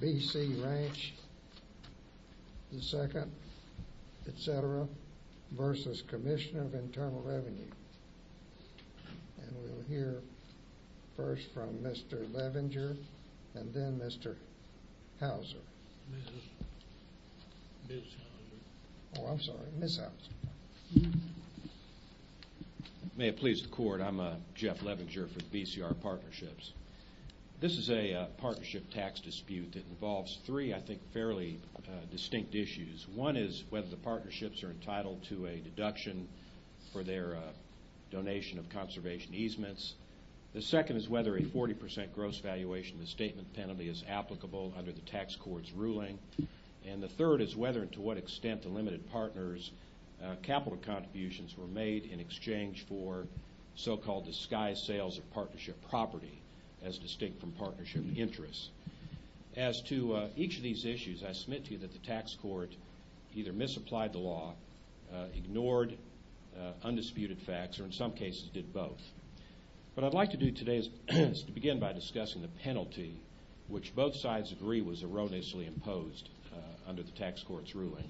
B.C. Ranch II, etc. v. Commissioner of Internal Revenue. And we'll hear first from Mr. Levenger and then Mr. Houser. Ms. Houser. Oh, I'm sorry, Ms. Houser. May it please the Court, I'm Jeff Levenger for BCR Partnerships. This is a partnership tax dispute that involves three, I think, fairly distinct issues. One is whether the partnerships are entitled to a deduction for their donation of conservation easements. The second is whether a 40% gross valuation of the statement penalty is applicable under the tax court's ruling. And the third is whether and to what extent the limited partners' capital contributions were made in exchange for so-called disguised sales of partnership property as distinct from partnership interests. As to each of these issues, I submit to you that the tax court either misapplied the law, ignored undisputed facts, or in some cases did both. What I'd like to do today is to begin by discussing the penalty, which both sides agree was erroneously imposed under the tax court's ruling.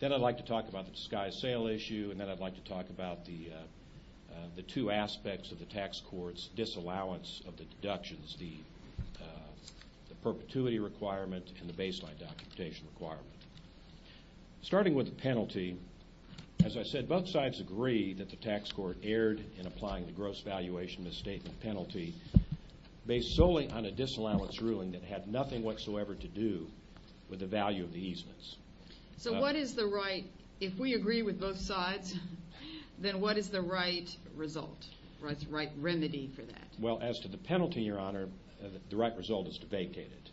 Then I'd like to talk about the disguised sale issue, and then I'd like to talk about the two aspects of the tax court's disallowance of the deductions, the perpetuity requirement and the baseline documentation requirement. Starting with the penalty, as I said, both sides agree that the tax court erred in applying the gross valuation of the statement penalty based solely on a disallowance ruling that had nothing whatsoever to do with the value of the easements. So what is the right, if we agree with both sides, then what is the right result, the right remedy for that? Well, as to the penalty, Your Honor, the right result is to vacate it.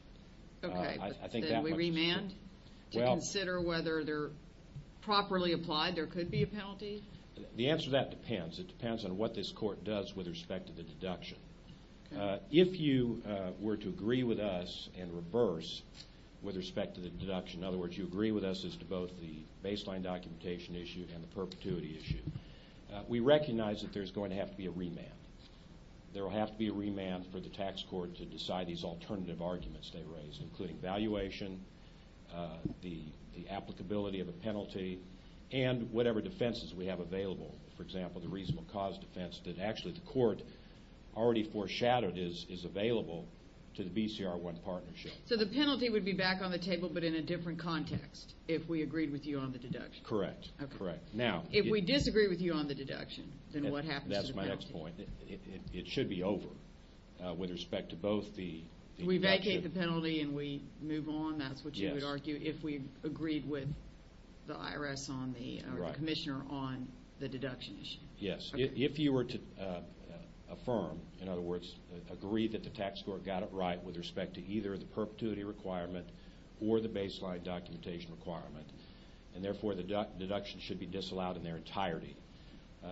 Okay, then we remand to consider whether they're properly applied. There could be a penalty? The answer to that depends. It depends on what this court does with respect to the deduction. If you were to agree with us and reverse with respect to the deduction, in other words, you agree with us as to both the baseline documentation issue and the perpetuity issue, we recognize that there's going to have to be a remand. There will have to be a remand for the tax court to decide these alternative arguments they raise, including valuation, the applicability of a penalty, and whatever defenses we have available. For example, the reasonable cause defense that actually the court already foreshadowed is available to the BCR1 partnership. So the penalty would be back on the table but in a different context if we agreed with you on the deduction? Correct, correct. If we disagree with you on the deduction, then what happens to the penalty? That's my next point. It should be over with respect to both the deduction. We vacate the penalty and we move on, that's what you would argue, if we agreed with the IRS or the commissioner on the deduction issue? Yes, if you were to affirm, in other words, agree that the tax court got it right with respect to either the perpetuity requirement or the baseline documentation requirement, and therefore the deduction should be disallowed in their entirety,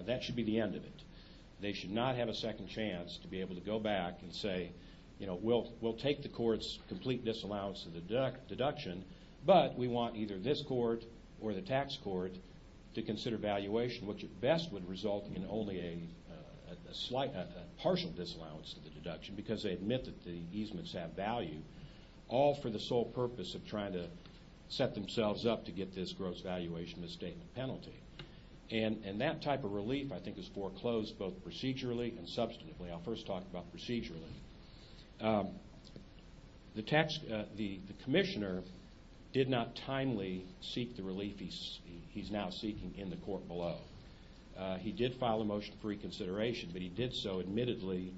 that should be the end of it. They should not have a second chance to be able to go back and say, you know, we'll take the court's complete disallowance of the deduction, but we want either this court or the tax court to consider valuation, which at best would result in only a partial disallowance of the deduction because they admit that the easements have value, all for the sole purpose of trying to set themselves up to get this gross valuation misstatement penalty. And that type of relief, I think, is foreclosed both procedurally and substantively. I'll first talk about procedurally. The commissioner did not timely seek the relief he's now seeking in the court below. He did file a motion for reconsideration, but he did so admittedly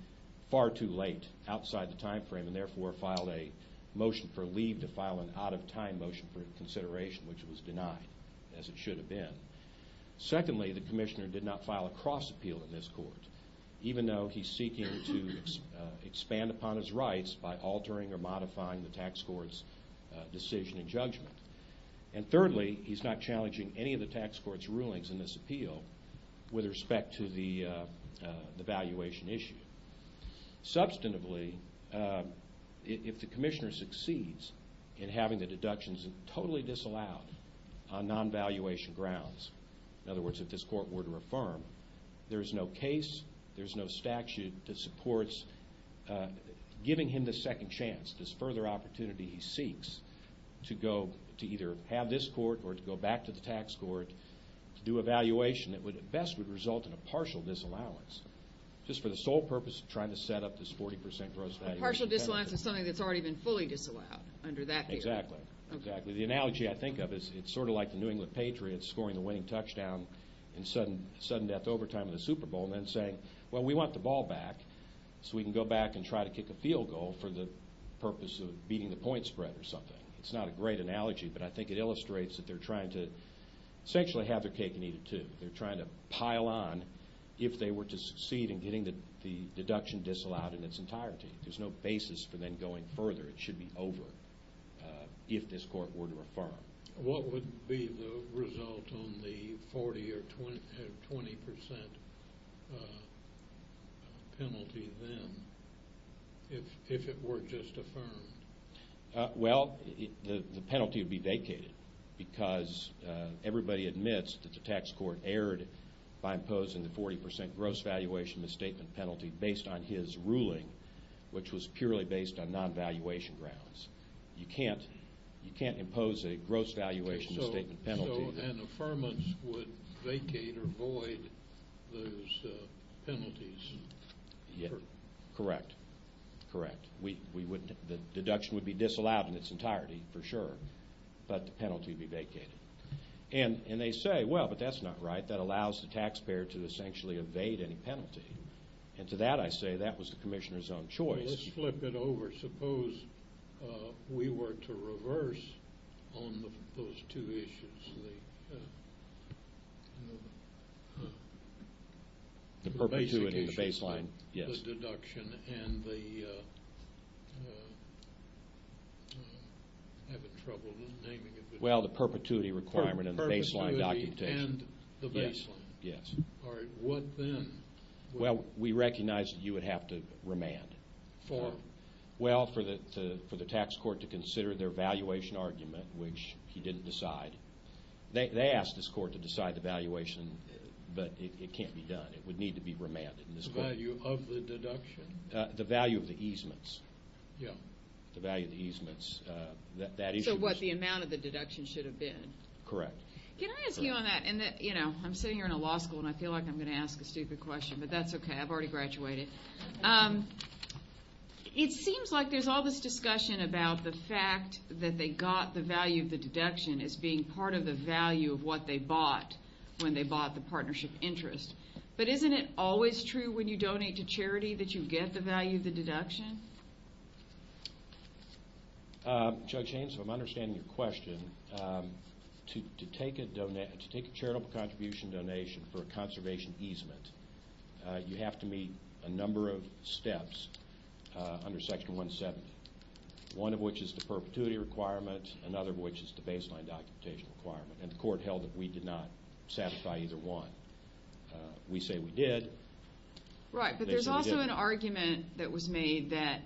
far too late outside the time frame and therefore filed a motion for leave to file an out-of-time motion for consideration, which was denied, as it should have been. Secondly, the commissioner did not file a cross-appeal in this court. Even though he's seeking to expand upon his rights by altering or modifying the tax court's decision and judgment. And thirdly, he's not challenging any of the tax court's rulings in this appeal with respect to the valuation issue. Substantively, if the commissioner succeeds in having the deductions totally disallowed on non-valuation grounds, in other words, if this court were to affirm, there's no case, there's no statute that supports giving him the second chance, this further opportunity he seeks to go to either have this court or to go back to the tax court, to do a valuation that would at best result in a partial disallowance, just for the sole purpose of trying to set up this 40 percent gross value. A partial disallowance is something that's already been fully disallowed under that period. Exactly. Exactly. The analogy I think of is it's sort of like the New England Patriots scoring the winning touchdown in sudden death overtime in the Super Bowl and then saying, well, we want the ball back so we can go back and try to kick a field goal for the purpose of beating the point spread or something. It's not a great analogy, but I think it illustrates that they're trying to essentially have their cake and eat it too. They're trying to pile on if they were to succeed in getting the deduction disallowed in its entirety. There's no basis for them going further. It should be over if this court were to affirm. What would be the result on the 40 or 20 percent penalty then if it were just affirmed? Well, the penalty would be vacated because everybody admits that the tax court erred by imposing the 40 percent gross valuation misstatement penalty based on his ruling, which was purely based on non-valuation grounds. You can't impose a gross valuation misstatement penalty. So an affirmance would vacate or void those penalties? Correct. Correct. The deduction would be disallowed in its entirety for sure, but the penalty would be vacated. And they say, well, but that's not right. That allows the taxpayer to essentially evade any penalty. And to that I say that was the commissioner's own choice. Well, let's flip it over. Suppose we were to reverse on those two issues. The perpetuity and the baseline. Yes. The deduction and the – I'm having trouble naming it. Well, the perpetuity requirement and the baseline documentation. Perpetuity and the baseline. Yes. All right. What then? Well, we recognize that you would have to remand. For? Well, for the tax court to consider their valuation argument, which he didn't decide. They asked this court to decide the valuation, but it can't be done. It would need to be remanded in this court. The value of the deduction? The value of the easements. Yes. The value of the easements. So what, the amount of the deduction should have been? Correct. Can I ask you on that? I'm sitting here in a law school and I feel like I'm going to ask a stupid question, but that's okay. I've already graduated. It seems like there's all this discussion about the fact that they got the value of the deduction as being part of the value of what they bought when they bought the partnership interest. But isn't it always true when you donate to charity that you get the value of the deduction? Judge Haynes, if I'm understanding your question, to take a charitable contribution donation for a conservation easement, you have to meet a number of steps under Section 170, one of which is the perpetuity requirement, another of which is the baseline documentation requirement, and the court held that we did not satisfy either one. We say we did. Right, but there's also an argument that was made that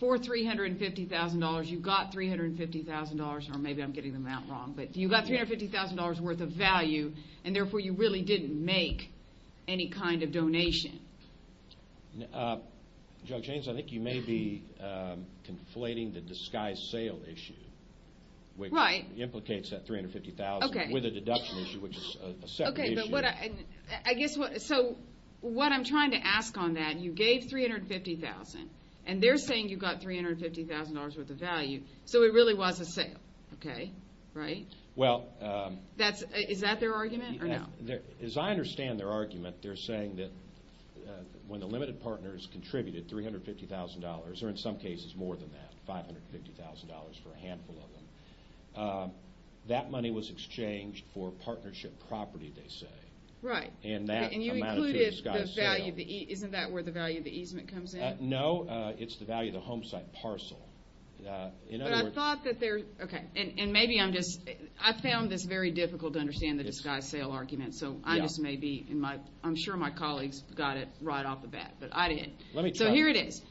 for $350,000, you got $350,000, or maybe I'm getting the amount wrong, but you got $350,000 worth of value, and therefore you really didn't make any kind of donation. Judge Haynes, I think you may be conflating the disguised sale issue, which implicates that $350,000 with a deduction issue, which is a separate issue. Okay, but I guess what I'm trying to ask on that, you gave $350,000, and they're saying you got $350,000 worth of value, so it really was a sale, right? Is that their argument or no? As I understand their argument, they're saying that when the limited partners contributed $350,000, or in some cases more than that, $550,000 for a handful of them, that money was exchanged for partnership property, they say. Right, and you included the value of the easement. Isn't that where the value of the easement comes in? No, it's the value of the home site parcel. But I thought that they're, okay, and maybe I'm just, I found this very difficult to understand the disguised sale argument, so I just may be, I'm sure my colleagues got it right off the bat, but I didn't. Let me try. So here it is.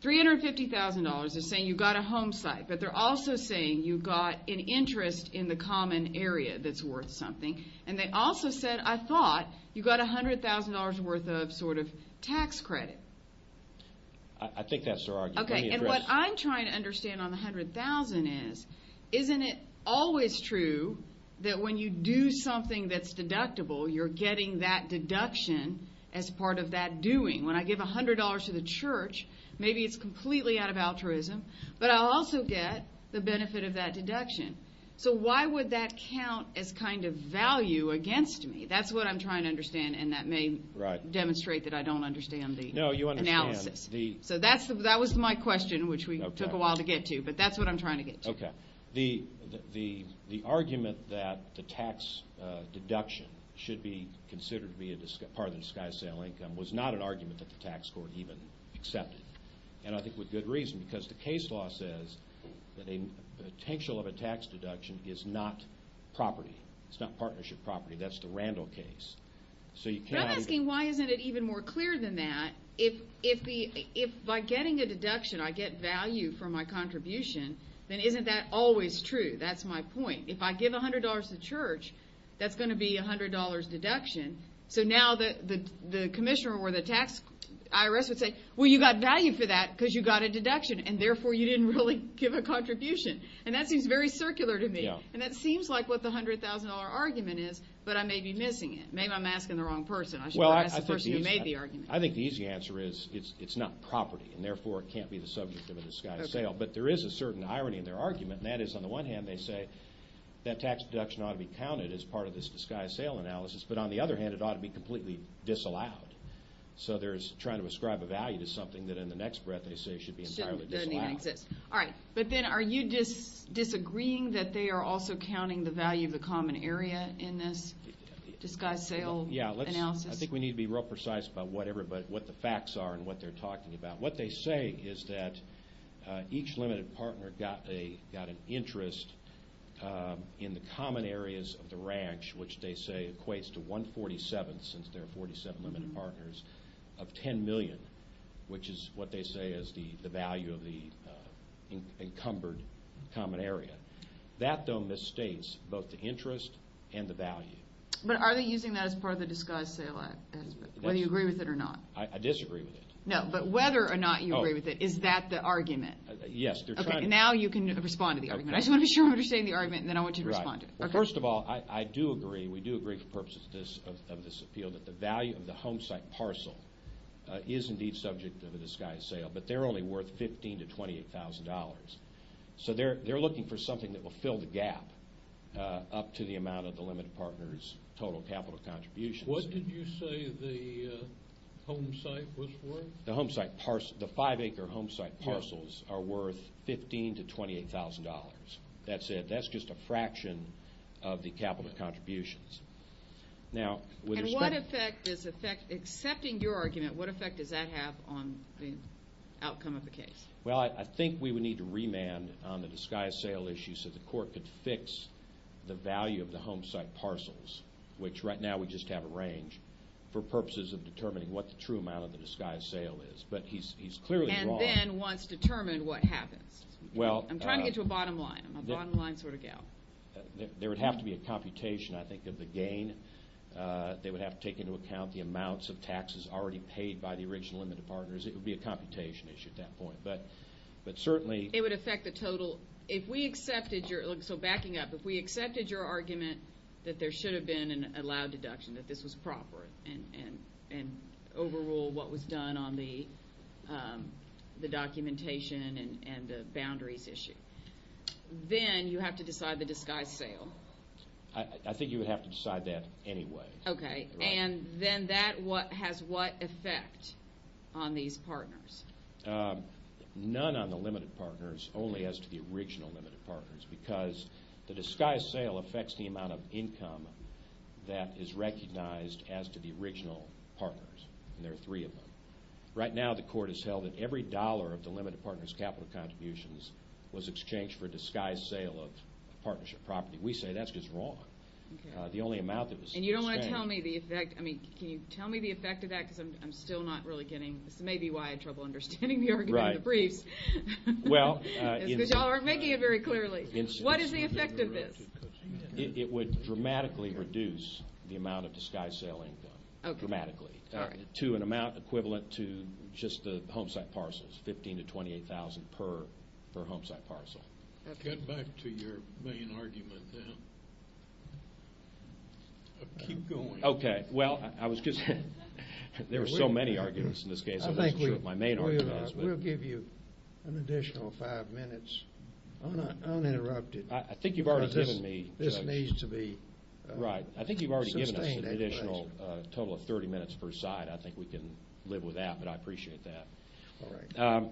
$350,000, they're saying you got a home site, but they're also saying you got an interest in the common area that's worth something, and they also said, I thought you got $100,000 worth of sort of tax credit. I think that's their argument. Okay, and what I'm trying to understand on the $100,000 is, isn't it always true that when you do something that's deductible, you're getting that deduction as part of that doing? When I give $100 to the church, maybe it's completely out of altruism, but I'll also get the benefit of that deduction. So why would that count as kind of value against me? That's what I'm trying to understand, and that may demonstrate that I don't understand the analysis. No, you understand. So that was my question, which we took a while to get to, but that's what I'm trying to get to. Okay. The argument that the tax deduction should be considered to be part of the disguised sale income was not an argument that the tax court even accepted, and I think with good reason, because the case law says that the potential of a tax deduction is not property. It's not partnership property. That's the Randall case. But I'm asking why isn't it even more clear than that? If by getting a deduction I get value for my contribution, then isn't that always true? That's my point. If I give $100 to the church, that's going to be a $100 deduction. So now the commissioner or the IRS would say, well, you got value for that because you got a deduction, and therefore you didn't really give a contribution. And that seems very circular to me, and that seems like what the $100,000 argument is, but I may be missing it. Maybe I'm asking the wrong person. I should probably ask the person who made the argument. I think the easy answer is it's not property, and therefore it can't be the subject of a disguised sale. But there is a certain irony in their argument, and that is on the one hand they say that tax deduction ought to be counted as part of this disguised sale analysis, but on the other hand it ought to be completely disallowed. So they're trying to ascribe a value to something that in the next breath they say should be entirely disallowed. Shouldn't. Doesn't even exist. All right. But then are you disagreeing that they are also counting the value of the common area in this disguised sale analysis? Yeah. I think we need to be real precise about what the facts are and what they're talking about. What they say is that each limited partner got an interest in the common areas of the ranch, which they say equates to one-forty-seventh, since there are 47 limited partners, of 10 million, which is what they say is the value of the encumbered common area. That, though, misstates both the interest and the value. But are they using that as part of the disguised sale aspect, whether you agree with it or not? I disagree with it. No, but whether or not you agree with it, is that the argument? Yes. Okay, now you can respond to the argument. I just want to be sure I'm understanding the argument, and then I want you to respond to it. First of all, I do agree, we do agree for purposes of this appeal, that the value of the homesite parcel is indeed subject to the disguised sale, but they're only worth $15,000 to $28,000. So they're looking for something that will fill the gap up to the amount of the limited partner's total capital contributions. What did you say the homesite was worth? The homesite parcel, the five-acre homesite parcels, are worth $15,000 to $28,000. That's it. That's just a fraction of the capital contributions. And what effect does that have on the outcome of the case? Well, I think we would need to remand on the disguised sale issue so the court could fix the value of the homesite parcels, which right now we just have a range, for purposes of determining what the true amount of the disguised sale is. And then once determined, what happens? I'm trying to get to a bottom line. I'm a bottom-line sort of gal. There would have to be a computation, I think, of the gain. They would have to take into account the amounts of taxes already paid by the original limited partners. It would be a computation issue at that point. But certainly – It would affect the total. If we accepted your – so backing up. If we accepted your argument that there should have been a loud deduction, that this was proper and overrule what was done on the documentation and the boundaries issue, then you have to decide the disguised sale. I think you would have to decide that anyway. Okay. And then that has what effect on these partners? None on the limited partners, only as to the original limited partners, because the disguised sale affects the amount of income that is recognized as to the original partners, and there are three of them. Right now the court has held that every dollar of the limited partners' capital contributions was exchanged for a disguised sale of partnership property. We say that's just wrong. The only amount that was exchanged – And you don't want to tell me the effect. I mean, can you tell me the effect of that? Because I'm still not really getting – this may be why I have trouble understanding the argument in the briefs. Right. Because you all aren't making it very clearly. It would dramatically reduce the amount of disguised sale income. Okay. Dramatically. To an amount equivalent to just the homesite parcels, 15,000 to 28,000 per homesite parcel. Get back to your main argument then. Keep going. Okay. Well, I was just – there were so many arguments in this case. I wasn't sure what my main argument was. We'll give you an additional five minutes uninterrupted. I think you've already given me, Judge. This needs to be sustained. Right. I think you've already given us an additional total of 30 minutes per side. I think we can live with that, but I appreciate that. All right.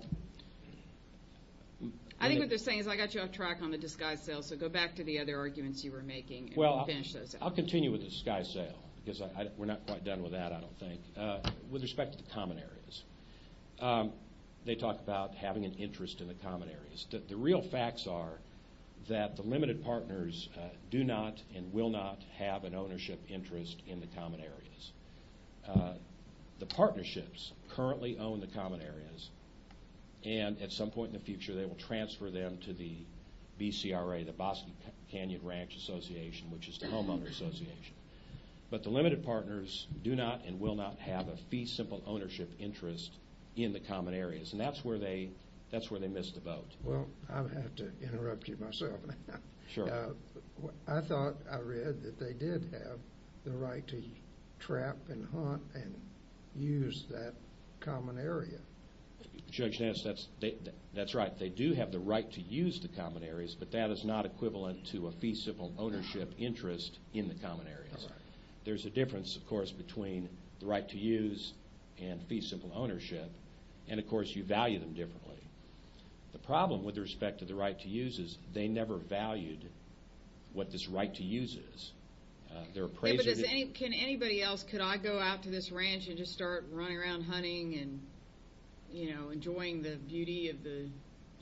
I think what they're saying is I got you off track on the disguised sale, so go back to the other arguments you were making and finish those out. Well, I'll continue with the disguised sale because we're not quite done with that, I don't think. With respect to the common areas, they talk about having an interest in the common areas. The real facts are that the limited partners do not and will not have an ownership interest in the common areas. The partnerships currently own the common areas, and at some point in the future they will transfer them to the BCRA, the Bosque Canyon Ranch Association, which is the homeowner association. But the limited partners do not and will not have a fee-simple ownership interest in the common areas, and that's where they missed the boat. Well, I have to interrupt you myself. Sure. I thought I read that they did have the right to trap and hunt and use that common area. Judge Dennis, that's right. They do have the right to use the common areas, but that is not equivalent to a fee-simple ownership interest in the common areas. All right. There's a difference, of course, between the right to use and fee-simple ownership, and, of course, you value them differently. The problem with respect to the right to use is they never valued what this right to use is. Can anybody else, could I go out to this ranch and just start running around hunting and enjoying the beauty of the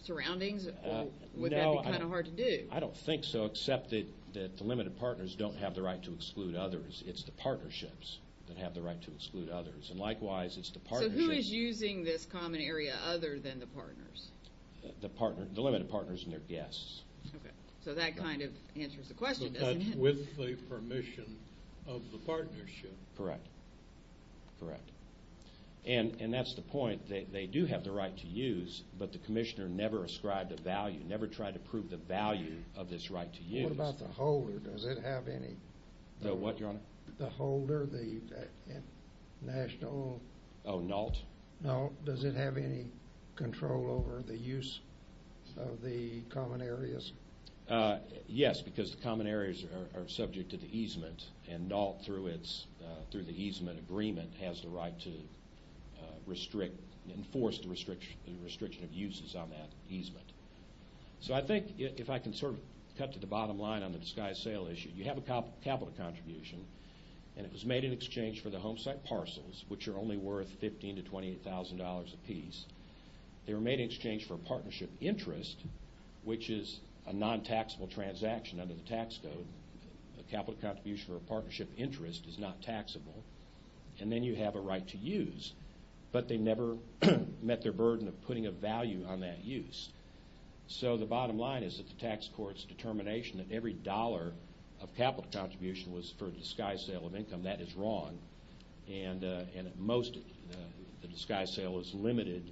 surroundings, or would that be kind of hard to do? No, I don't think so, except that the limited partners don't have the right to exclude others. It's the partnerships that have the right to exclude others, and likewise it's the partnerships. So who is using this common area other than the partners? The limited partners and their guests. Okay. So that kind of answers the question, doesn't it? With the permission of the partnership. Correct. Correct. And that's the point. They do have the right to use, but the commissioner never ascribed a value, never tried to prove the value of this right to use. What about the holder? Does it have any? The what, Your Honor? The holder, the national? Oh, NALT? NALT. Does it have any control over the use of the common areas? Yes, because the common areas are subject to the easement, and NALT, through the easement agreement, has the right to enforce the restriction of uses on that easement. So I think if I can sort of cut to the bottom line on the disguised sale issue, you have a capital contribution, and it was made in exchange for the home site parcels, which are only worth $15,000 to $28,000 apiece. They were made in exchange for a partnership interest, which is a non-taxable transaction under the tax code. A capital contribution for a partnership interest is not taxable. And then you have a right to use, but they never met their burden of putting a value on that use. So the bottom line is that the tax court's determination that every dollar of capital contribution was for a disguised sale of income, that is wrong. And at most, the disguised sale is limited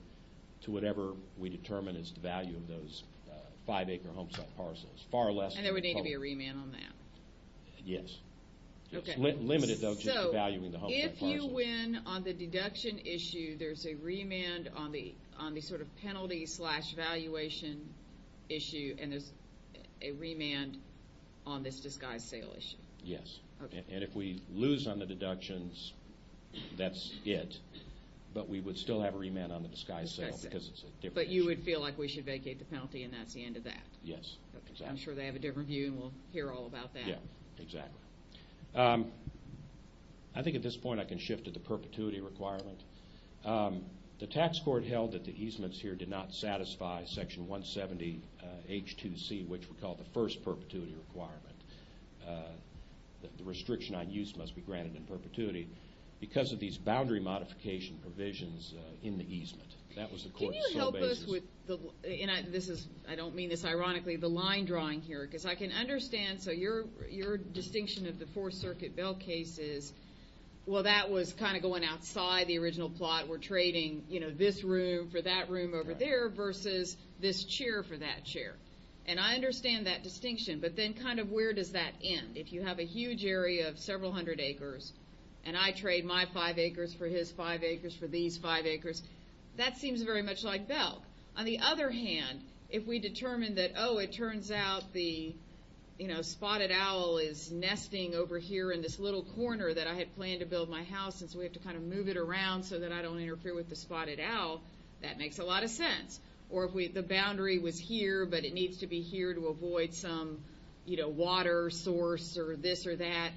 to whatever we determine is the value of those five-acre home site parcels. And there would need to be a remand on that? Yes. It's limited, though, just to valuing the home site parcels. So if you win on the deduction issue, there's a remand on the sort of penalty-slash-valuation issue, and there's a remand on this disguised sale issue? Yes. And if we lose on the deductions, that's it. But we would still have a remand on the disguised sale because it's a different issue. But you would feel like we should vacate the penalty and that's the end of that? Yes, exactly. I'm sure they have a different view, and we'll hear all about that. Yeah, exactly. I think at this point I can shift to the perpetuity requirement. The tax court held that the easements here did not satisfy Section 170H2C, which we call the first perpetuity requirement. The restriction on use must be granted in perpetuity because of these boundary modification provisions in the easement. That was the court's sole basis. Can you help us with the line drawing here? Because I can understand. So your distinction of the Fourth Circuit bill case is, well, that was kind of going outside the original plot. We're trading, you know, this room for that room over there versus this chair for that chair. And I understand that distinction, but then kind of where does that end? If you have a huge area of several hundred acres and I trade my five acres for his five acres for these five acres, that seems very much like Belk. On the other hand, if we determine that, oh, it turns out the, you know, the spotted owl is nesting over here in this little corner that I had planned to build my house, and so we have to kind of move it around so that I don't interfere with the spotted owl, that makes a lot of sense. Or if the boundary was here, but it needs to be here to avoid some, you know, water source or this or that.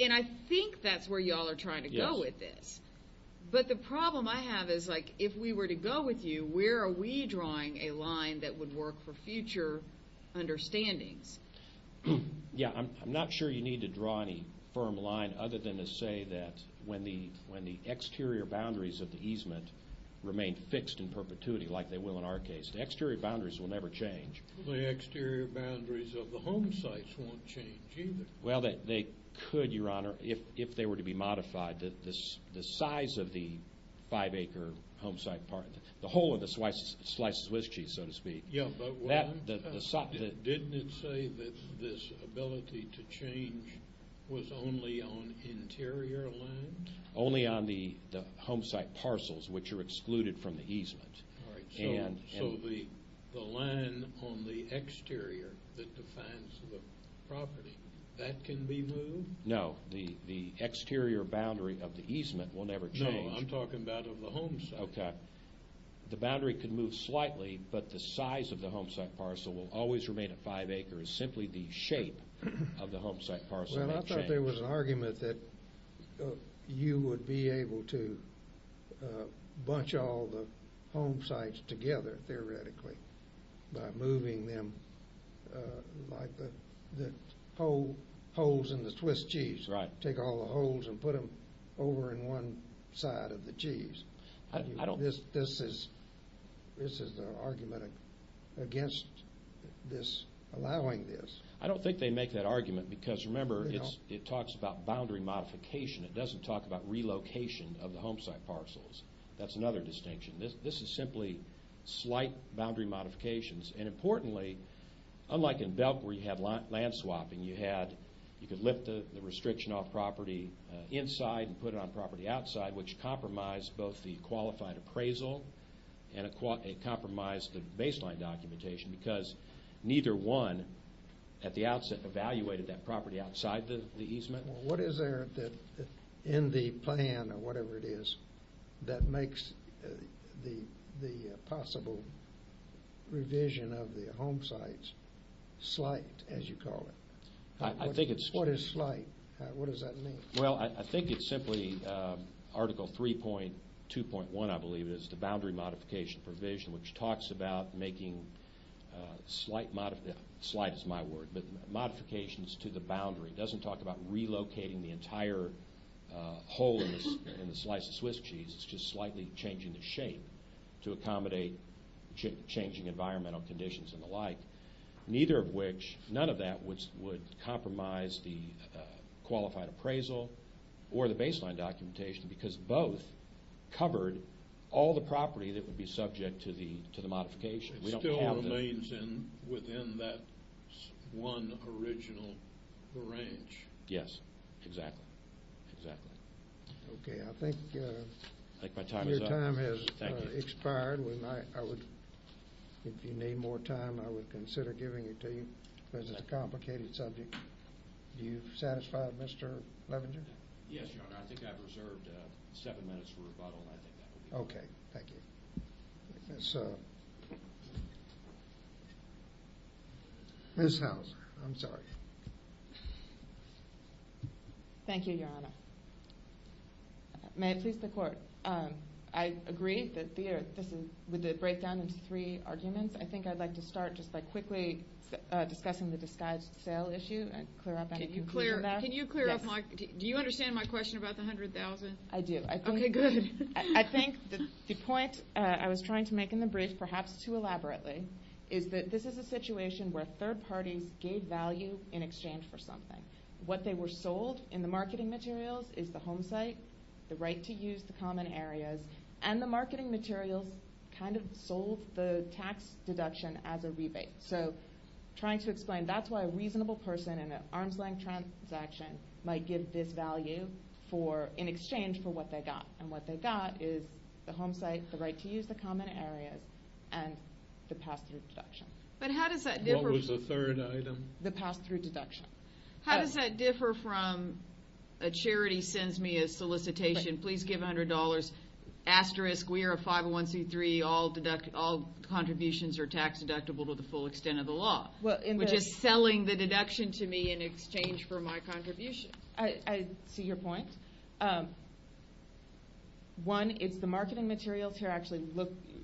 And I think that's where you all are trying to go with this. But the problem I have is, like, if we were to go with you, where are we drawing a line that would work for future understandings? Yeah, I'm not sure you need to draw any firm line other than to say that when the exterior boundaries of the easement remain fixed in perpetuity like they will in our case, the exterior boundaries will never change. The exterior boundaries of the home sites won't change either. Well, they could, Your Honor, if they were to be modified. The size of the five-acre home site part, the whole of the slices of Swiss cheese, so to speak. Yeah, but didn't it say that this ability to change was only on interior land? Only on the home site parcels, which are excluded from the easement. All right, so the line on the exterior that defines the property, that can be moved? No, the exterior boundary of the easement will never change. No, I'm talking about of the home site. Okay. The boundary can move slightly, but the size of the home site parcel will always remain at five acres. Simply the shape of the home site parcel won't change. Well, I thought there was an argument that you would be able to bunch all the home sites together, theoretically, by moving them like the holes in the Swiss cheese. Right. Take all the holes and put them over in one side of the cheese. This is the argument against allowing this. I don't think they make that argument because, remember, it talks about boundary modification. It doesn't talk about relocation of the home site parcels. That's another distinction. This is simply slight boundary modifications. And importantly, unlike in Belk where you had land swapping, you could lift the restriction off property inside and put it on property outside, which compromised both the qualified appraisal and it compromised the baseline documentation because neither one at the outset evaluated that property outside the easement. What is there in the plan, or whatever it is, that makes the possible revision of the home sites slight, as you call it? What is slight? What does that mean? Well, I think it's simply Article 3.2.1, I believe it is, the boundary modification provision, which talks about making slight modifications to the boundary. It doesn't talk about relocating the entire hole in the slice of Swiss cheese. It's just slightly changing the shape to accommodate changing environmental conditions and the like. None of that would compromise the qualified appraisal or the baseline documentation because both covered all the property that would be subject to the modification. It still remains within that one original range. Yes, exactly. Okay, I think your time has expired. If you need more time, I would consider giving it to you because it's a complicated subject. Are you satisfied, Mr. Levenger? Yes, Your Honor, I think I've reserved seven minutes for rebuttal. Okay, thank you. Ms. Hauser, I'm sorry. Thank you, Your Honor. May it please the Court, I agree with the breakdown into three arguments. I think I'd like to start just by quickly discussing the disguised sale issue and clear up any confusion there. Can you clear up my question? Do you understand my question about the $100,000? I do. Okay, good. I think the point I was trying to make in the brief, perhaps too elaborately, is that this is a situation where third parties gave value in exchange for something. What they were sold in the marketing materials is the home site, the right to use, the common areas, and the marketing materials kind of sold the tax deduction as a rebate. So trying to explain, that's why a reasonable person in an arm's-length transaction might give this value in exchange for what they got, and what they got is the home site, the right to use, the common areas, and the pass-through deduction. What was the third item? The pass-through deduction. How does that differ from a charity sends me a solicitation, please give $100, asterisk, we are a 501c3, all contributions are tax deductible to the full extent of the law, which is selling the deduction to me in exchange for my contribution. I see your point. One, it's the marketing materials here actually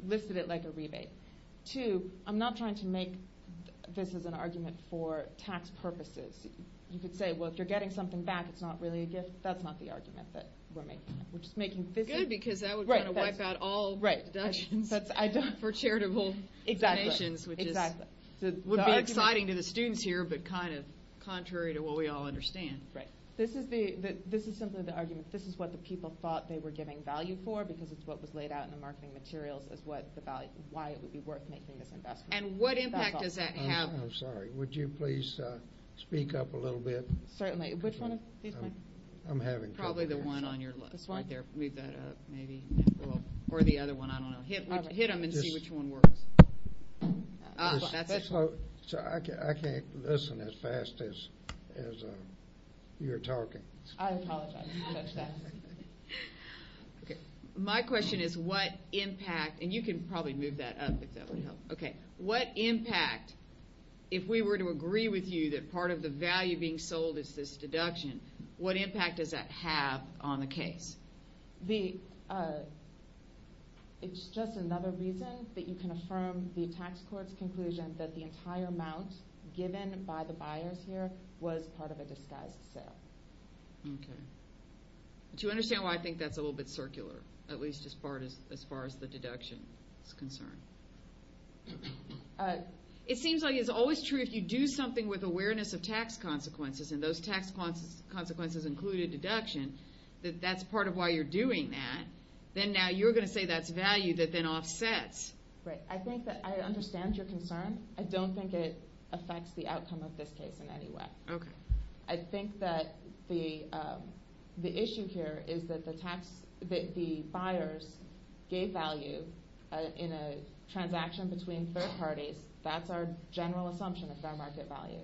listed it like a rebate. Two, I'm not trying to make this as an argument for tax purposes. You could say, well, if you're getting something back, it's not really a gift. That's not the argument that we're making. Good, because that would kind of wipe out all deductions for charitable donations, which would be exciting to the students here, but kind of contrary to what we all understand. This is simply the argument. This is what the people thought they were giving value for because it's what was laid out in the marketing materials as why it would be worth making this investment. And what impact does that have? I'm sorry. Would you please speak up a little bit? Certainly. Which one of these? I'm having trouble hearing. Probably the one on your left right there. Move that up maybe. Or the other one, I don't know. Hit them and see which one works. I can't listen as fast as you're talking. I apologize. My question is what impact, and you can probably move that up if that would help. Okay. What impact, if we were to agree with you that part of the value being sold is this deduction, what impact does that have on the case? It's just another reason that you can affirm the tax court's conclusion that the entire amount given by the buyers here was part of a disguised sale. Okay. Do you understand why I think that's a little bit circular, at least as far as the deduction is concerned? It seems like it's always true if you do something with awareness of tax consequences and those tax consequences include a deduction, that that's part of why you're doing that. Then now you're going to say that's value that then offsets. Right. I think that I understand your concern. I don't think it affects the outcome of this case in any way. Okay. I think that the issue here is that the buyers gave value in a transaction between third parties. That's our general assumption of fair market value.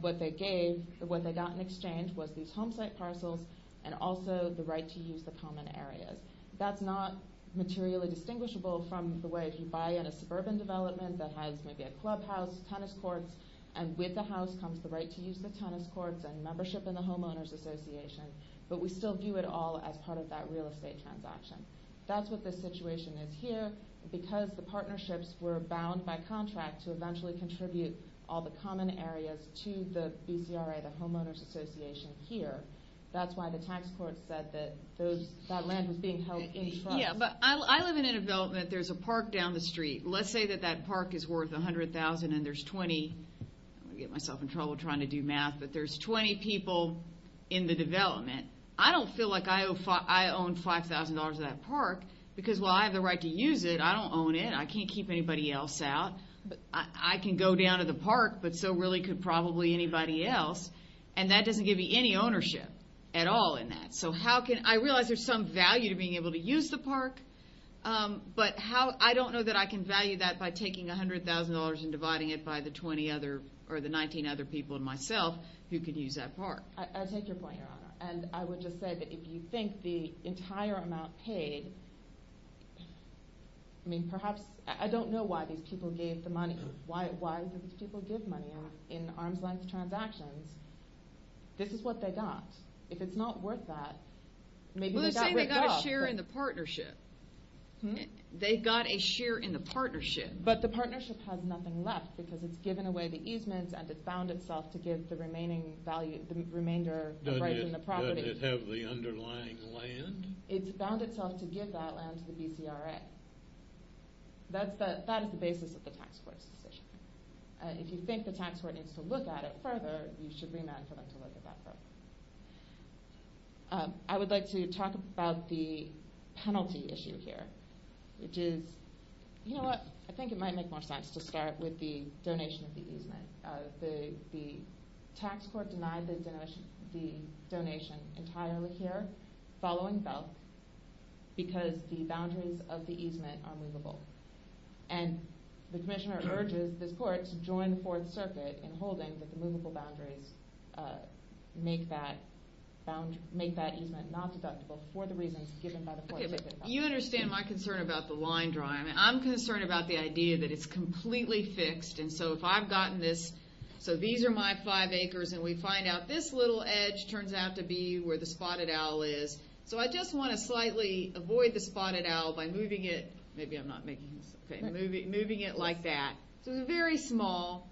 What they gave, what they got in exchange was these home site parcels and also the right to use the common areas. That's not materially distinguishable from the way if you buy in a suburban development that has maybe a clubhouse, tennis courts, and with the house comes the right to use the tennis courts and membership in the homeowners association, but we still view it all as part of that real estate transaction. That's what this situation is here because the partnerships were bound by contract to eventually contribute all the common areas to the BCRA, the homeowners association here. That's why the tax court said that that land was being held in trust. Yeah, but I live in a development. There's a park down the street. Let's say that that park is worth $100,000 and there's 20, I'm going to get myself in trouble trying to do math, but there's 20 people in the development. I don't feel like I own $5,000 of that park because while I have the right to use it, I don't own it. I can't keep anybody else out. I can go down to the park, but so really could probably anybody else, and that doesn't give you any ownership at all in that. So I realize there's some value to being able to use the park, but I don't know that I can value that by taking $100,000 and dividing it by the 19 other people and myself who could use that park. I take your point, Your Honor, and I would just say that if you think the entire amount paid, I mean perhaps I don't know why these people gave the money. Why do these people give money in arm's-length transactions? This is what they got. If it's not worth that, maybe they got ripped off. Well, they're saying they got a share in the partnership. They got a share in the partnership. But the partnership has nothing left because it's given away the easements and it found itself to give the remainder of the property. Does it have the underlying land? It's found itself to give that land to the BCRA. That is the basis of the tax court's decision. If you think the tax court needs to look at it further, you should remand for them to look at that property. I would like to talk about the penalty issue here, which is, you know what? I think it might make more sense to start with the donation of the easement. The tax court denied the donation entirely here following felt because the boundaries of the easement are movable. And the commissioner urges this court to join the Fourth Circuit in holding that the movable boundaries make that easement not deductible for the reasons given by the Fourth Circuit. You understand my concern about the line drawing. I'm concerned about the idea that it's completely fixed, and so if I've gotten this, so these are my five acres, and we find out this little edge turns out to be where the Spotted Owl is. So I just want to slightly avoid the Spotted Owl by moving it like that. So it's very small,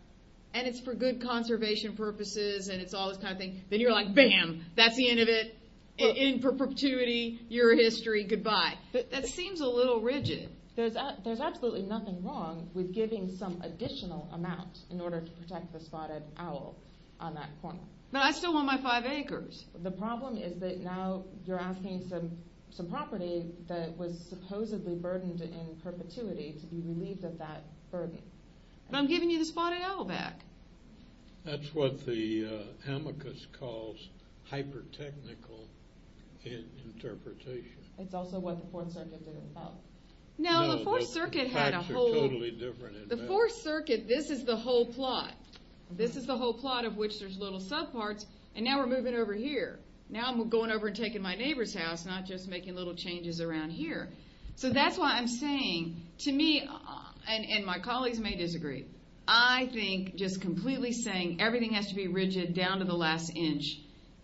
and it's for good conservation purposes, and it's all this kind of thing. Then you're like, bam, that's the end of it. In perpetuity, your history, goodbye. That seems a little rigid. There's absolutely nothing wrong with giving some additional amount in order to protect the Spotted Owl on that corner. But I still want my five acres. The problem is that now you're asking some property that was supposedly burdened in perpetuity to be relieved of that burden. But I'm giving you the Spotted Owl back. That's what the amicus calls hyper-technical interpretation. It's also what the Fourth Circuit didn't vote. No, the Fourth Circuit had a whole. The Fourth Circuit, this is the whole plot. This is the whole plot of which there's little subparts, and now we're moving over here. Now I'm going over and taking my neighbor's house, not just making little changes around here. So that's why I'm saying to me, and my colleagues may disagree, I think just completely saying everything has to be rigid down to the last inch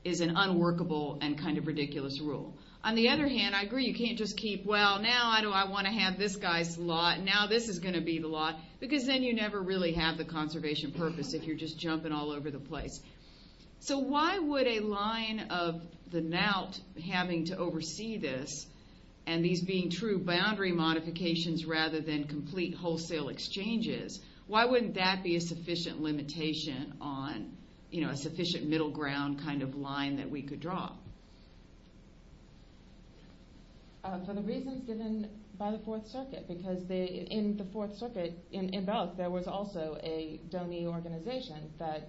is an unworkable and kind of ridiculous rule. On the other hand, I agree you can't just keep, well, now I want to have this guy's lot, now this is going to be the lot, because then you never really have the conservation purpose if you're just jumping all over the place. So why would a line of the knout having to oversee this, and these being true boundary modifications rather than complete wholesale exchanges, why wouldn't that be a sufficient limitation on a sufficient middle ground kind of line that we could draw? For the reasons given by the Fourth Circuit, because in the Fourth Circuit, in both, there was also a donee organization that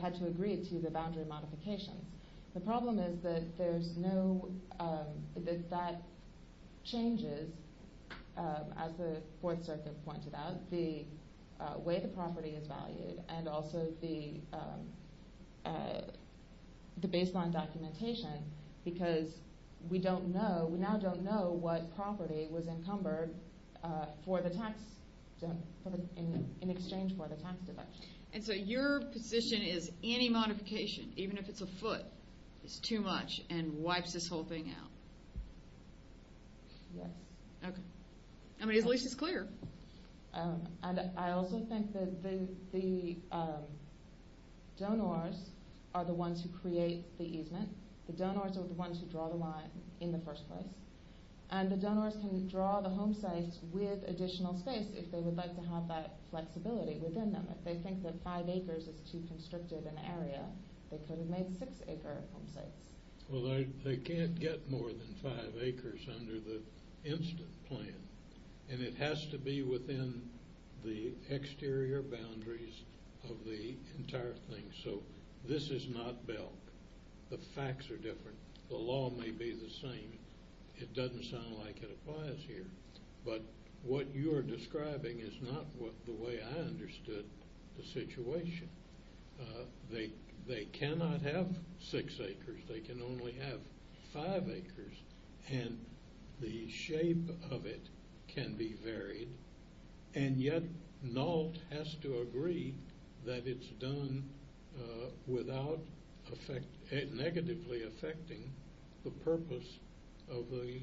had to agree to the boundary modifications. The problem is that there's no, that that changes, as the Fourth Circuit pointed out, the way the property is valued, and also the baseline documentation, because we don't know, we now don't know what property was encumbered for the tax, in exchange for the tax deduction. And so your position is any modification, even if it's a foot, is too much and wipes this whole thing out? Yes. Okay. I mean, his leash is clear. And I also think that the donors are the ones who create the easement. The donors are the ones who draw the line in the first place. And the donors can draw the home sites with additional space if they would like to have that flexibility within them. If they think that five acres is too constricted an area, they could have made six-acre home sites. Well, they can't get more than five acres under the instant plan, and it has to be within the exterior boundaries of the entire thing. So this is not Bell. The facts are different. The law may be the same. It doesn't sound like it applies here. They cannot have six acres. They can only have five acres. And the shape of it can be varied, and yet NALT has to agree that it's done without negatively affecting the purpose of the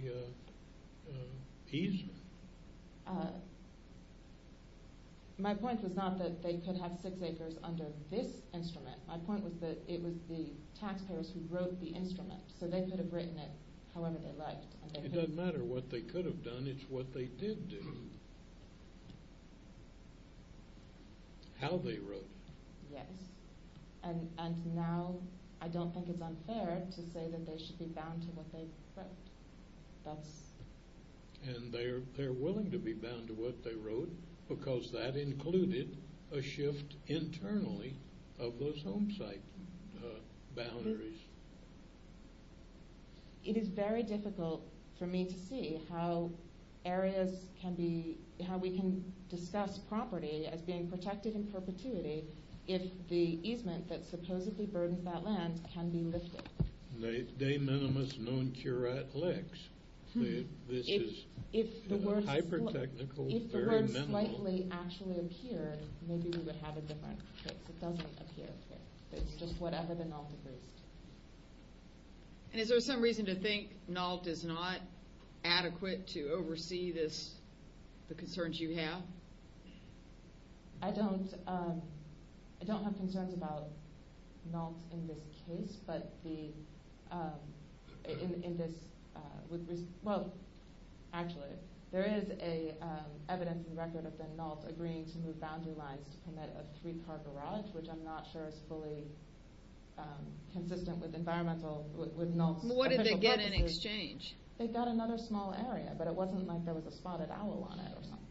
easement. My point was not that they could have six acres under this instrument. My point was that it was the taxpayers who wrote the instrument, so they could have written it however they liked. It doesn't matter what they could have done. It's what they did do, how they wrote. Yes, and now I don't think it's unfair to say that they should be bound to what they wrote. And they're willing to be bound to what they wrote because that included a shift internally of those home site boundaries. It is very difficult for me to see how areas can be— how we can discuss property as being protected in perpetuity if the easement that supposedly burdens that land can be lifted. De minimis non curat lex. This is hyper-technical, very minimal. If the words slightly actually appear, maybe we would have a different case. It doesn't appear here. It's just whatever the NALT agrees to. And is there some reason to think NALT is not adequate to oversee the concerns you have? I don't have concerns about NALT in this case, but in this— well, actually, there is evidence and record of the NALT agreeing to move boundary lines to permit a three-car garage, which I'm not sure is fully consistent with NALT's— What did they get in exchange? They got another small area, but it wasn't like there was a spotted owl on it or something.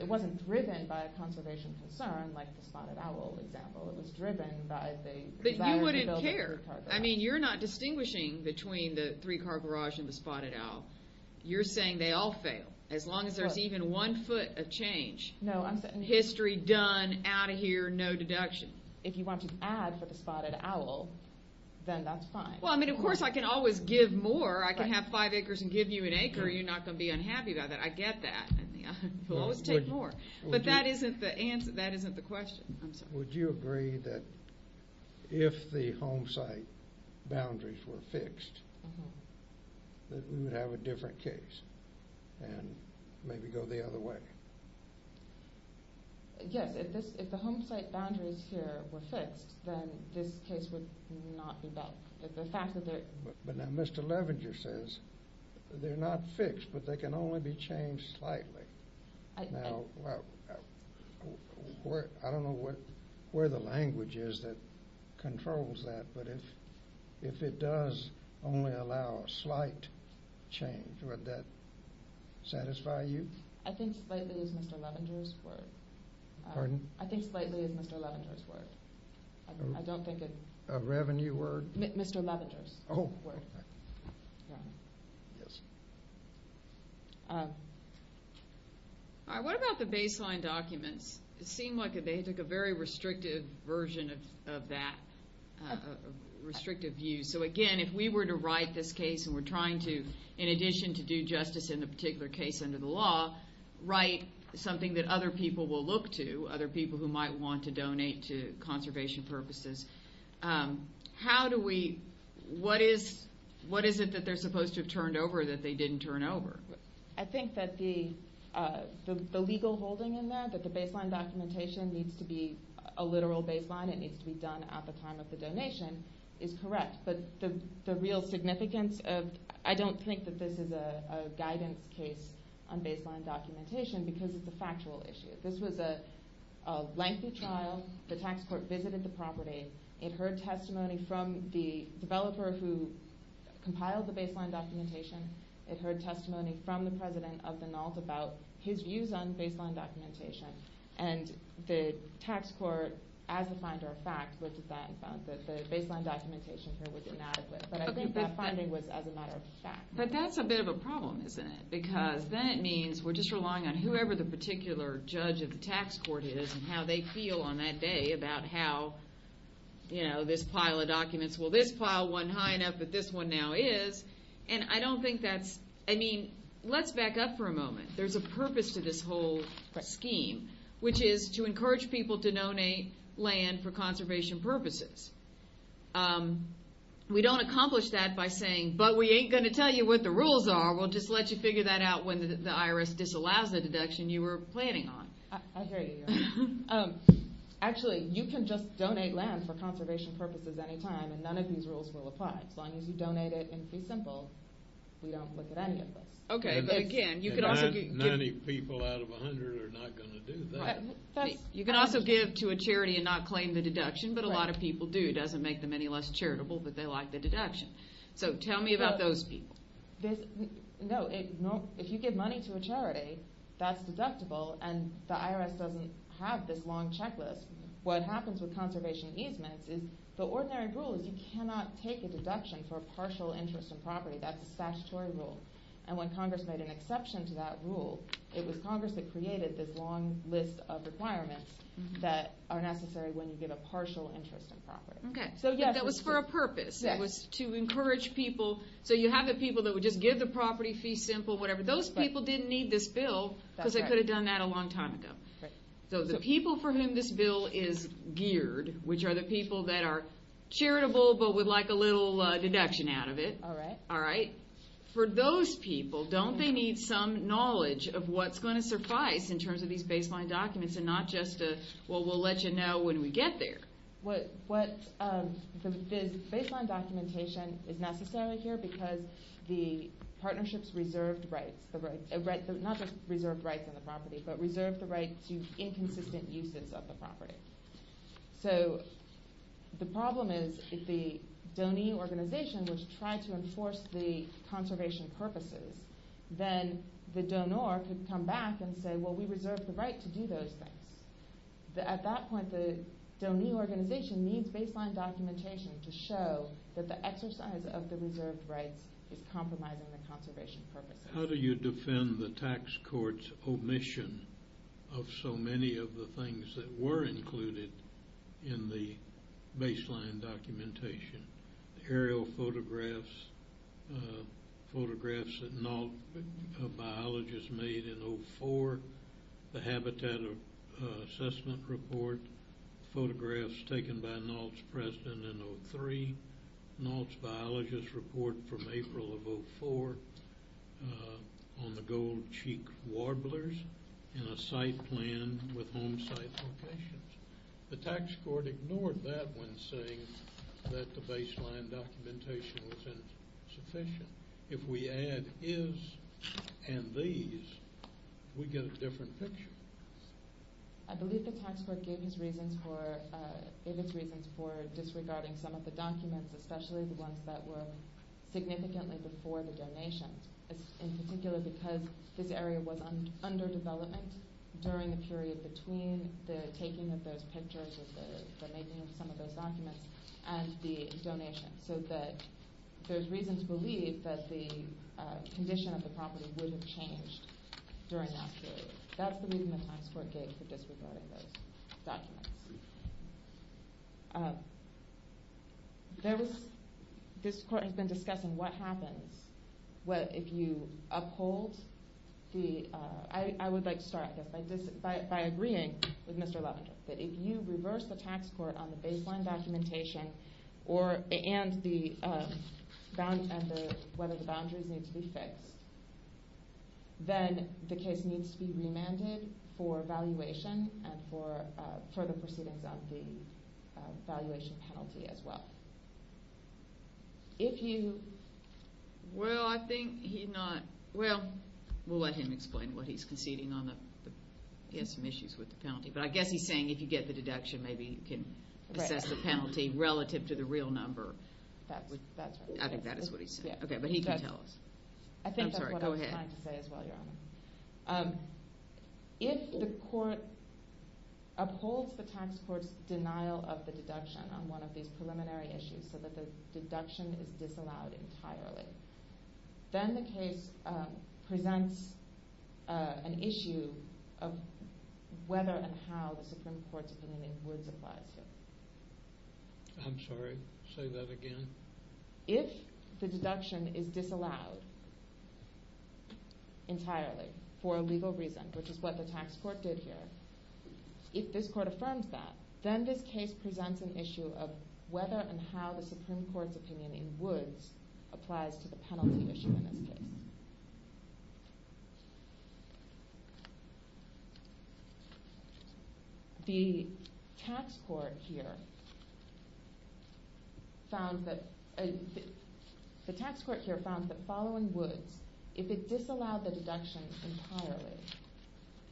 It wasn't driven by a conservation concern, like the spotted owl example. It was driven by the— But you wouldn't care. I mean, you're not distinguishing between the three-car garage and the spotted owl. You're saying they all fail, as long as there's even one foot of change. No, I'm saying— History done, out of here, no deduction. If you want to add for the spotted owl, then that's fine. Well, I mean, of course I can always give more. I can have five acres and give you an acre. You're not going to be unhappy about that. I get that. You'll always take more. But that isn't the answer. That isn't the question. I'm sorry. Would you agree that if the home site boundaries were fixed, that we would have a different case and maybe go the other way? Yes, if the home site boundaries here were fixed, then this case would not be back. The fact that they're— But now Mr. Levenger says they're not fixed, but they can only be changed slightly. Now, I don't know where the language is that controls that, but if it does only allow a slight change, would that satisfy you? I think slightly is Mr. Levenger's word. Pardon? I think slightly is Mr. Levenger's word. I don't think it— A revenue word? Mr. Levenger's word. Yes. All right, what about the baseline documents? It seemed like they took a very restrictive version of that, restrictive view. So, again, if we were to write this case and we're trying to, in addition to do justice in a particular case under the law, write something that other people will look to, other people who might want to donate to conservation purposes, how do we—what is it that they're supposed to have turned over that they didn't turn over? I think that the legal holding in that, that the baseline documentation needs to be a literal baseline, it needs to be done at the time of the donation, is correct. But the real significance of— I don't think that this is a guidance case on baseline documentation because it's a factual issue. This was a lengthy trial. The tax court visited the property. It heard testimony from the developer who compiled the baseline documentation. It heard testimony from the president of the NALT about his views on baseline documentation. And the tax court, as a finder of fact, looked at that and found that the baseline documentation here was inadequate. But I think that finding was as a matter of fact. But that's a bit of a problem, isn't it? Because then it means we're just relying on whoever the particular judge of the tax court is and how they feel on that day about how, you know, this pile of documents— well, this pile went high enough that this one now is. And I don't think that's—I mean, let's back up for a moment. There's a purpose to this whole scheme, which is to encourage people to donate land for conservation purposes. We don't accomplish that by saying, but we ain't going to tell you what the rules are. We'll just let you figure that out when the IRS disallows the deduction you were planning on. I hear you. Actually, you can just donate land for conservation purposes any time, and none of these rules will apply. As long as you donate it in pre-simple, we don't look at any of this. Okay, but again, you could also give— And 90 people out of 100 are not going to do that. You can also give to a charity and not claim the deduction, but a lot of people do. It doesn't make them any less charitable, but they like the deduction. So tell me about those people. No, if you give money to a charity, that's deductible, and the IRS doesn't have this long checklist. What happens with conservation easements is the ordinary rule is you cannot take a deduction for a partial interest in property. That's a statutory rule, and when Congress made an exception to that rule, it was Congress that created this long list of requirements that are necessary when you give a partial interest in property. Okay, so that was for a purpose. It was to encourage people. So you have the people that would just give the property fee simple, whatever. Those people didn't need this bill because they could have done that a long time ago. So the people for whom this bill is geared, which are the people that are charitable but would like a little deduction out of it, for those people, don't they need some knowledge of what's going to suffice in terms of these baseline documents and not just a, well, we'll let you know when we get there? The baseline documentation is necessary here because the partnerships reserved rights, not just reserved rights on the property, but reserved the rights to inconsistent uses of the property. So the problem is if the donee organization was trying to enforce the conservation purposes, then the donor could come back and say, well, we reserved the right to do those things. At that point, the donee organization needs baseline documentation to show that the exercise of the reserved rights is compromising the conservation purposes. How do you defend the tax court's omission of so many of the things that were included in the baseline documentation? Aerial photographs, photographs that NALT biologists made in 2004, the habitat assessment report, photographs taken by NALT's president in 2003, NALT's biologist report from April of 2004 on the gold-cheeked warblers, and a site plan with home site locations. The tax court ignored that when saying that the baseline documentation wasn't sufficient. If we add is and these, we get a different picture. I believe the tax court gave its reasons for disregarding some of the documents, especially the ones that were significantly before the donations, in particular because this area was under development during the period between the taking of those pictures and the making of some of those documents and the donations, so that there's reason to believe that the condition of the property would have changed during that period. That's the reason the tax court gave for disregarding those documents. This court has been discussing what happens if you uphold the... I would like to start by agreeing with Mr. Levender that if you reverse the tax court on the baseline documentation and whether the boundaries need to be fixed, then the case needs to be remanded for evaluation and for further proceedings on the valuation penalty as well. If you... Well, I think he not... Well, we'll let him explain what he's conceding on the... He has some issues with the penalty, but I guess he's saying if you get the deduction, maybe you can assess the penalty relative to the real number. That's right. I think that is what he's saying. Okay, but he can tell us. I think that's what I was trying to say as well, Your Honor. If the court upholds the tax court's denial of the deduction on one of these preliminary issues so that the deduction is disallowed entirely, then the case presents an issue of whether and how the Supreme Court's opinion in Woods applies here. I'm sorry. Say that again. If the deduction is disallowed entirely for a legal reason, which is what the tax court did here, if this court affirms that, then this case presents an issue of whether and how the Supreme Court's opinion in Woods applies to the penalty issue in this case. The tax court here found that following Woods, if it disallowed the deduction entirely,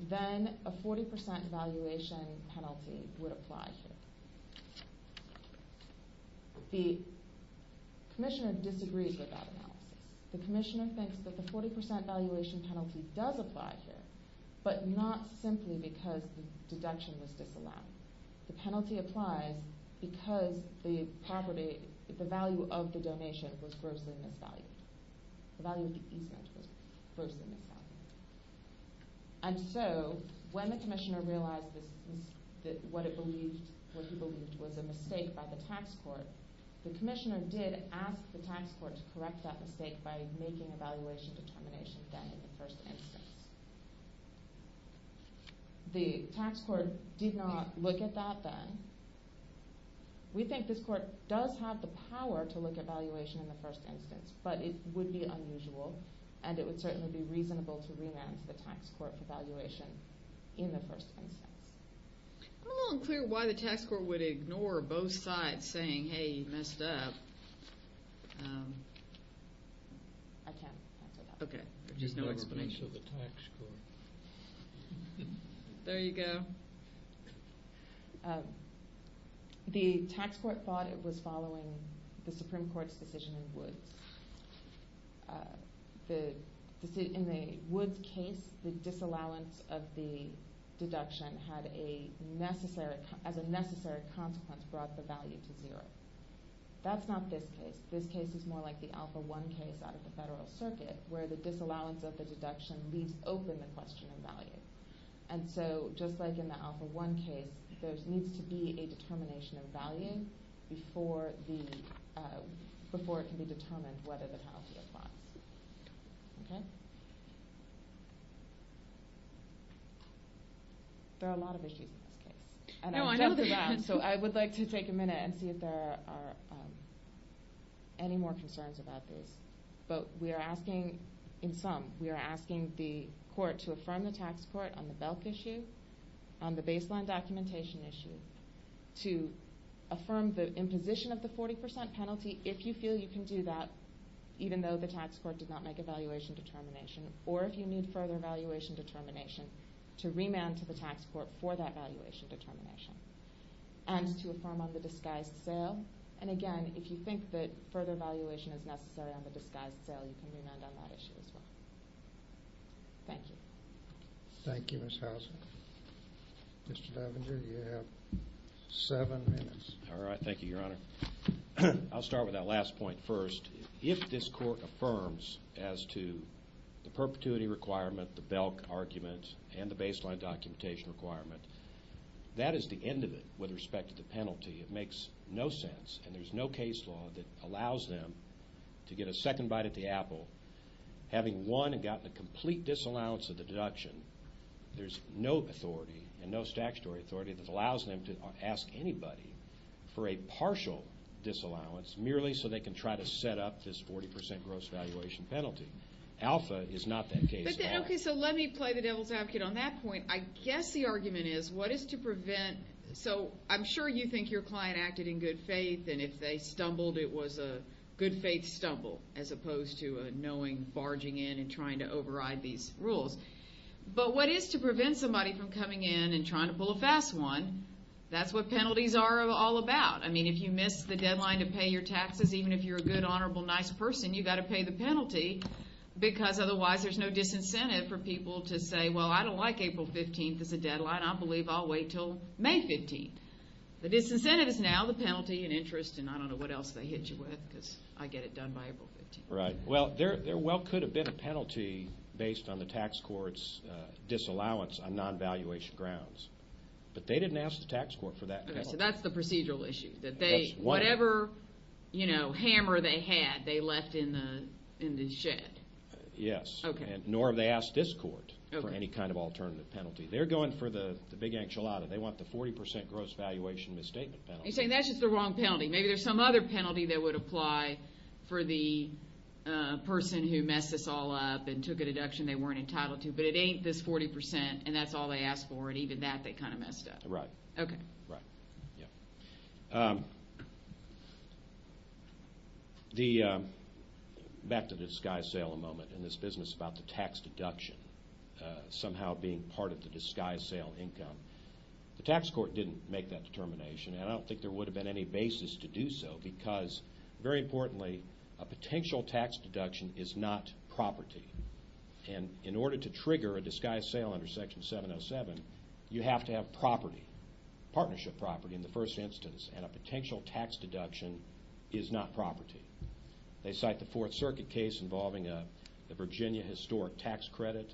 then a 40% evaluation penalty would apply here. The commissioner disagrees with that analysis. The commissioner thinks that the 40% evaluation penalty does apply here, but not simply because the deduction was disallowed. The penalty applies because the property, the value of the donation was grossly misvalued. The value of the easement was grossly misvalued. And so when the commissioner realized that what he believed was a mistake by the tax court, the commissioner did ask the tax court to correct that mistake by making evaluation determination then in the first instance. The tax court did not look at that then. We think this court does have the power to look at valuation in the first instance, but it would be unusual and it would certainly be reasonable to remand the tax court for valuation in the first instance. I'm a little unclear why the tax court would ignore both sides saying, hey, you messed up. I can't answer that. Okay, there's just no explanation. You can't answer the tax court. There you go. The tax court thought it was following the Supreme Court's decision in Woods. In the Woods case, the disallowance of the deduction as a necessary consequence brought the value to zero. That's not this case. This case is more like the Alpha 1 case out of the federal circuit where the disallowance of the deduction leaves open the question of value. And so just like in the Alpha 1 case, there needs to be a determination of value before it can be determined whether the policy applies. Okay. There are a lot of issues in this case. And I'm just around, so I would like to take a minute and see if there are any more concerns about this. But we are asking, in sum, we are asking the court to affirm the tax court on the BELC issue, on the baseline documentation issue, to affirm the imposition of the 40% penalty if you feel you can do that even though the tax court did not make a valuation determination or if you need further valuation determination to remand to the tax court for that valuation determination and to affirm on the disguised sale. And again, if you think that further valuation is necessary on the disguised sale, you can remand on that issue as well. Thank you. Thank you, Ms. Houser. Mr. Levenger, you have seven minutes. All right. Thank you, Your Honor. I'll start with that last point first. If this court affirms as to the perpetuity requirement, the BELC argument, and the baseline documentation requirement, that is the end of it with respect to the penalty. It makes no sense. And there's no case law that allows them to get a second bite at the apple having won and gotten a complete disallowance of the deduction. There's no authority and no statutory authority that allows them to ask anybody for a partial disallowance merely so they can try to set up this 40% gross valuation penalty. Alpha is not that case law. Okay, so let me play the devil's advocate on that point. I guess the argument is what is to prevent so I'm sure you think your client acted in good faith and if they stumbled it was a good faith stumble as opposed to a knowing barging in and trying to override these rules. But what is to prevent somebody from coming in and trying to pull a fast one, that's what penalties are all about. I mean, if you miss the deadline to pay your taxes, even if you're a good, honorable, nice person, you've got to pay the penalty because otherwise there's no disincentive for people to say, well, I don't like April 15th as a deadline. I believe I'll wait until May 15th. The disincentive is now the penalty and interest and I don't know what else they hit you with because I get it done by April 15th. Right. Well, there well could have been a penalty based on the tax court's disallowance on non-valuation grounds, but they didn't ask the tax court for that penalty. Okay, so that's the procedural issue, that whatever hammer they had they left in the shed. Yes. Okay. Nor have they asked this court for any kind of alternative penalty. They're going for the big enchilada. They want the 40% gross valuation misstatement penalty. You're saying that's just the wrong penalty. Maybe there's some other penalty that would apply for the person who messed this all up and took a deduction they weren't entitled to, but it ain't this 40% and that's all they asked for and even that they kind of messed up. Right. Okay. Right. Yeah. Back to the disguise sale a moment. In this business about the tax deduction somehow being part of the disguise sale income, the tax court didn't make that determination and I don't think there would have been any basis to do so because, very importantly, a potential tax deduction is not property. And in order to trigger a disguise sale under Section 707, you have to have property, partnership property, in the first instance, and a potential tax deduction is not property. They cite the Fourth Circuit case involving the Virginia historic tax credit.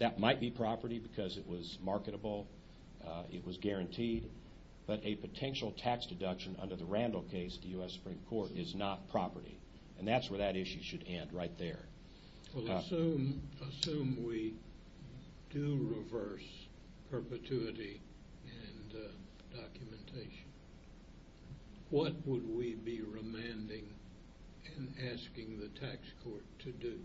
That might be property because it was marketable, it was guaranteed, but a potential tax deduction under the Randall case at the U.S. Supreme Court is not property and that's where that issue should end, right there. Well, assume we do reverse perpetuity and documentation. What would we be remanding and asking the tax court to do?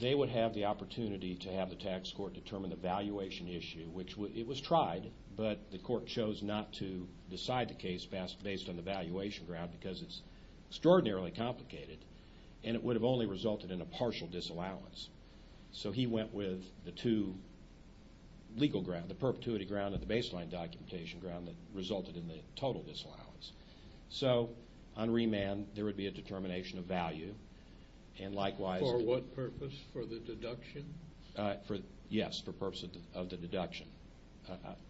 They would have the opportunity to have the tax court determine the valuation issue, which it was tried, but the court chose not to decide the case based on the valuation ground because it's extraordinarily complicated and it would have only resulted in a partial disallowance. So he went with the two legal grounds, the perpetuity ground and the baseline documentation ground that resulted in the total disallowance. So on remand, there would be a determination of value. For what purpose? For the deduction? Yes, for the purpose of the deduction.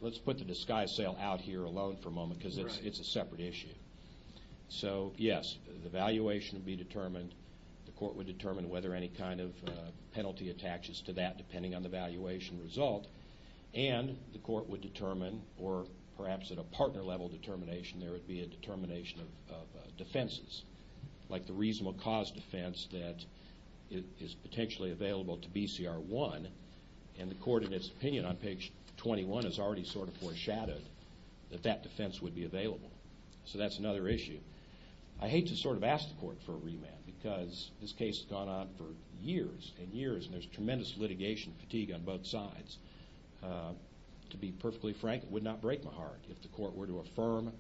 Let's put the disguise sale out here alone for a moment because it's a separate issue. So, yes, the valuation would be determined, the court would determine whether any kind of penalty attaches to that depending on the valuation result, and the court would determine, or perhaps at a partner level determination, there would be a determination of defenses, like the reasonable cause defense that is potentially available to BCR1, and the court in its opinion on page 21 has already sort of foreshadowed that that defense would be available. So that's another issue. I hate to sort of ask the court for a remand because this case has gone on for years and years and there's tremendous litigation fatigue on both sides. To be perfectly frank, it would not break my heart if the court were to affirm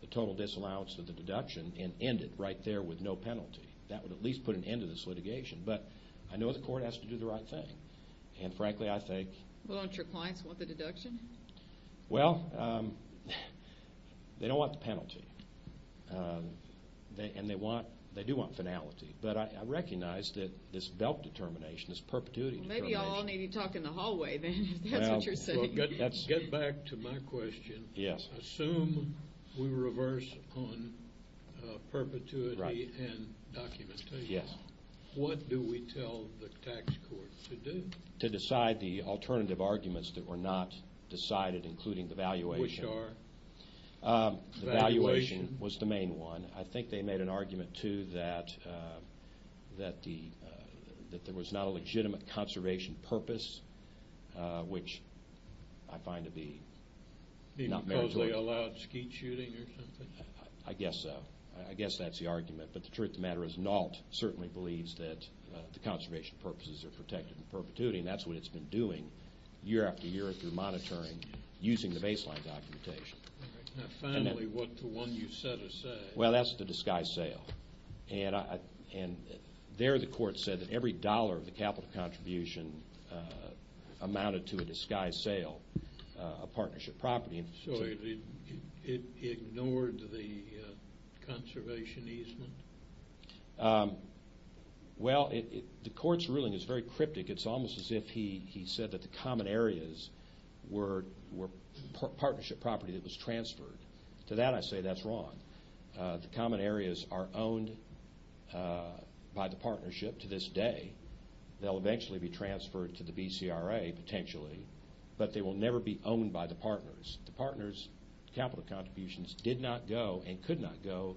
the total disallowance of the deduction and end it right there with no penalty. That would at least put an end to this litigation. But I know the court has to do the right thing. And frankly, I think... Well, don't your clients want the deduction? Well, they don't want the penalty. And they do want finality. But I recognize that this belt determination, this perpetuity determination... Maybe I'll need you to talk in the hallway then if that's what you're saying. Get back to my question. Assume we reverse on perpetuity and documentation. What do we tell the tax court to do? To decide the alternative arguments that were not decided, including the valuation. Which are? The valuation was the main one. I think they made an argument, too, that there was not a legitimate conservation purpose, which I find to be not meritorious. Maybe because they allowed skeet shooting or something? I guess so. I guess that's the argument. But the truth of the matter is NALT certainly believes that the conservation purposes are protected in perpetuity. And that's what it's been doing year after year through monitoring using the baseline documentation. Finally, what the one you set aside. Well, that's the disguised sale. And there the court said that every dollar of the capital contribution amounted to a disguised sale of partnership property. So it ignored the conservation easement? Well, the court's ruling is very cryptic. It's almost as if he said that the common areas were partnership property that was transferred. To that I say that's wrong. The common areas are owned by the partnership to this day. They'll eventually be transferred to the BCRA, potentially. But they will never be owned by the partners. The partners' capital contributions did not go and could not go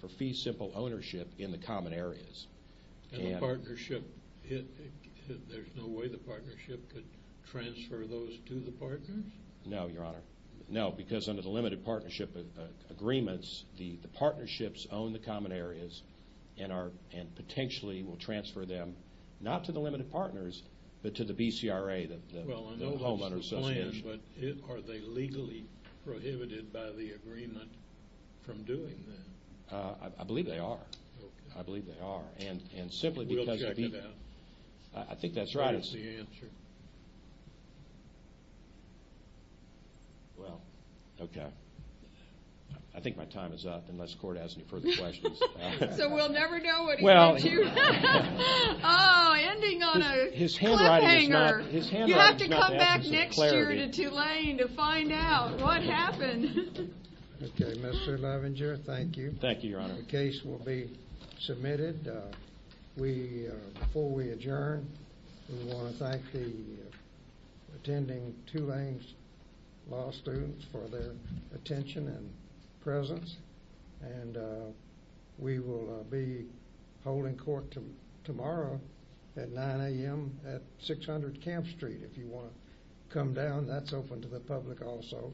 for fee-simple ownership in the common areas. And the partnership, there's no way the partnership could transfer those to the partners? No, Your Honor. No, because under the limited partnership agreements, the partnerships own the common areas and potentially will transfer them not to the limited partners but to the BCRA, the homeowner's association. But are they legally prohibited by the agreement from doing that? I believe they are. Okay. I believe they are. We'll check it out. I think that's right. What's the answer? Well, okay. I think my time is up unless the court has any further questions. So we'll never know what he said to you? Oh, ending on a cliffhanger. You have to come back next year to Tulane to find out what happened. Okay, Mr. Lovinger, thank you. Thank you, Your Honor. The case will be submitted. Before we adjourn, we want to thank the attending Tulane law students for their attention and presence. And we will be holding court tomorrow at 9 a.m. at 600 Camp Street if you want to come down. That's open to the public also.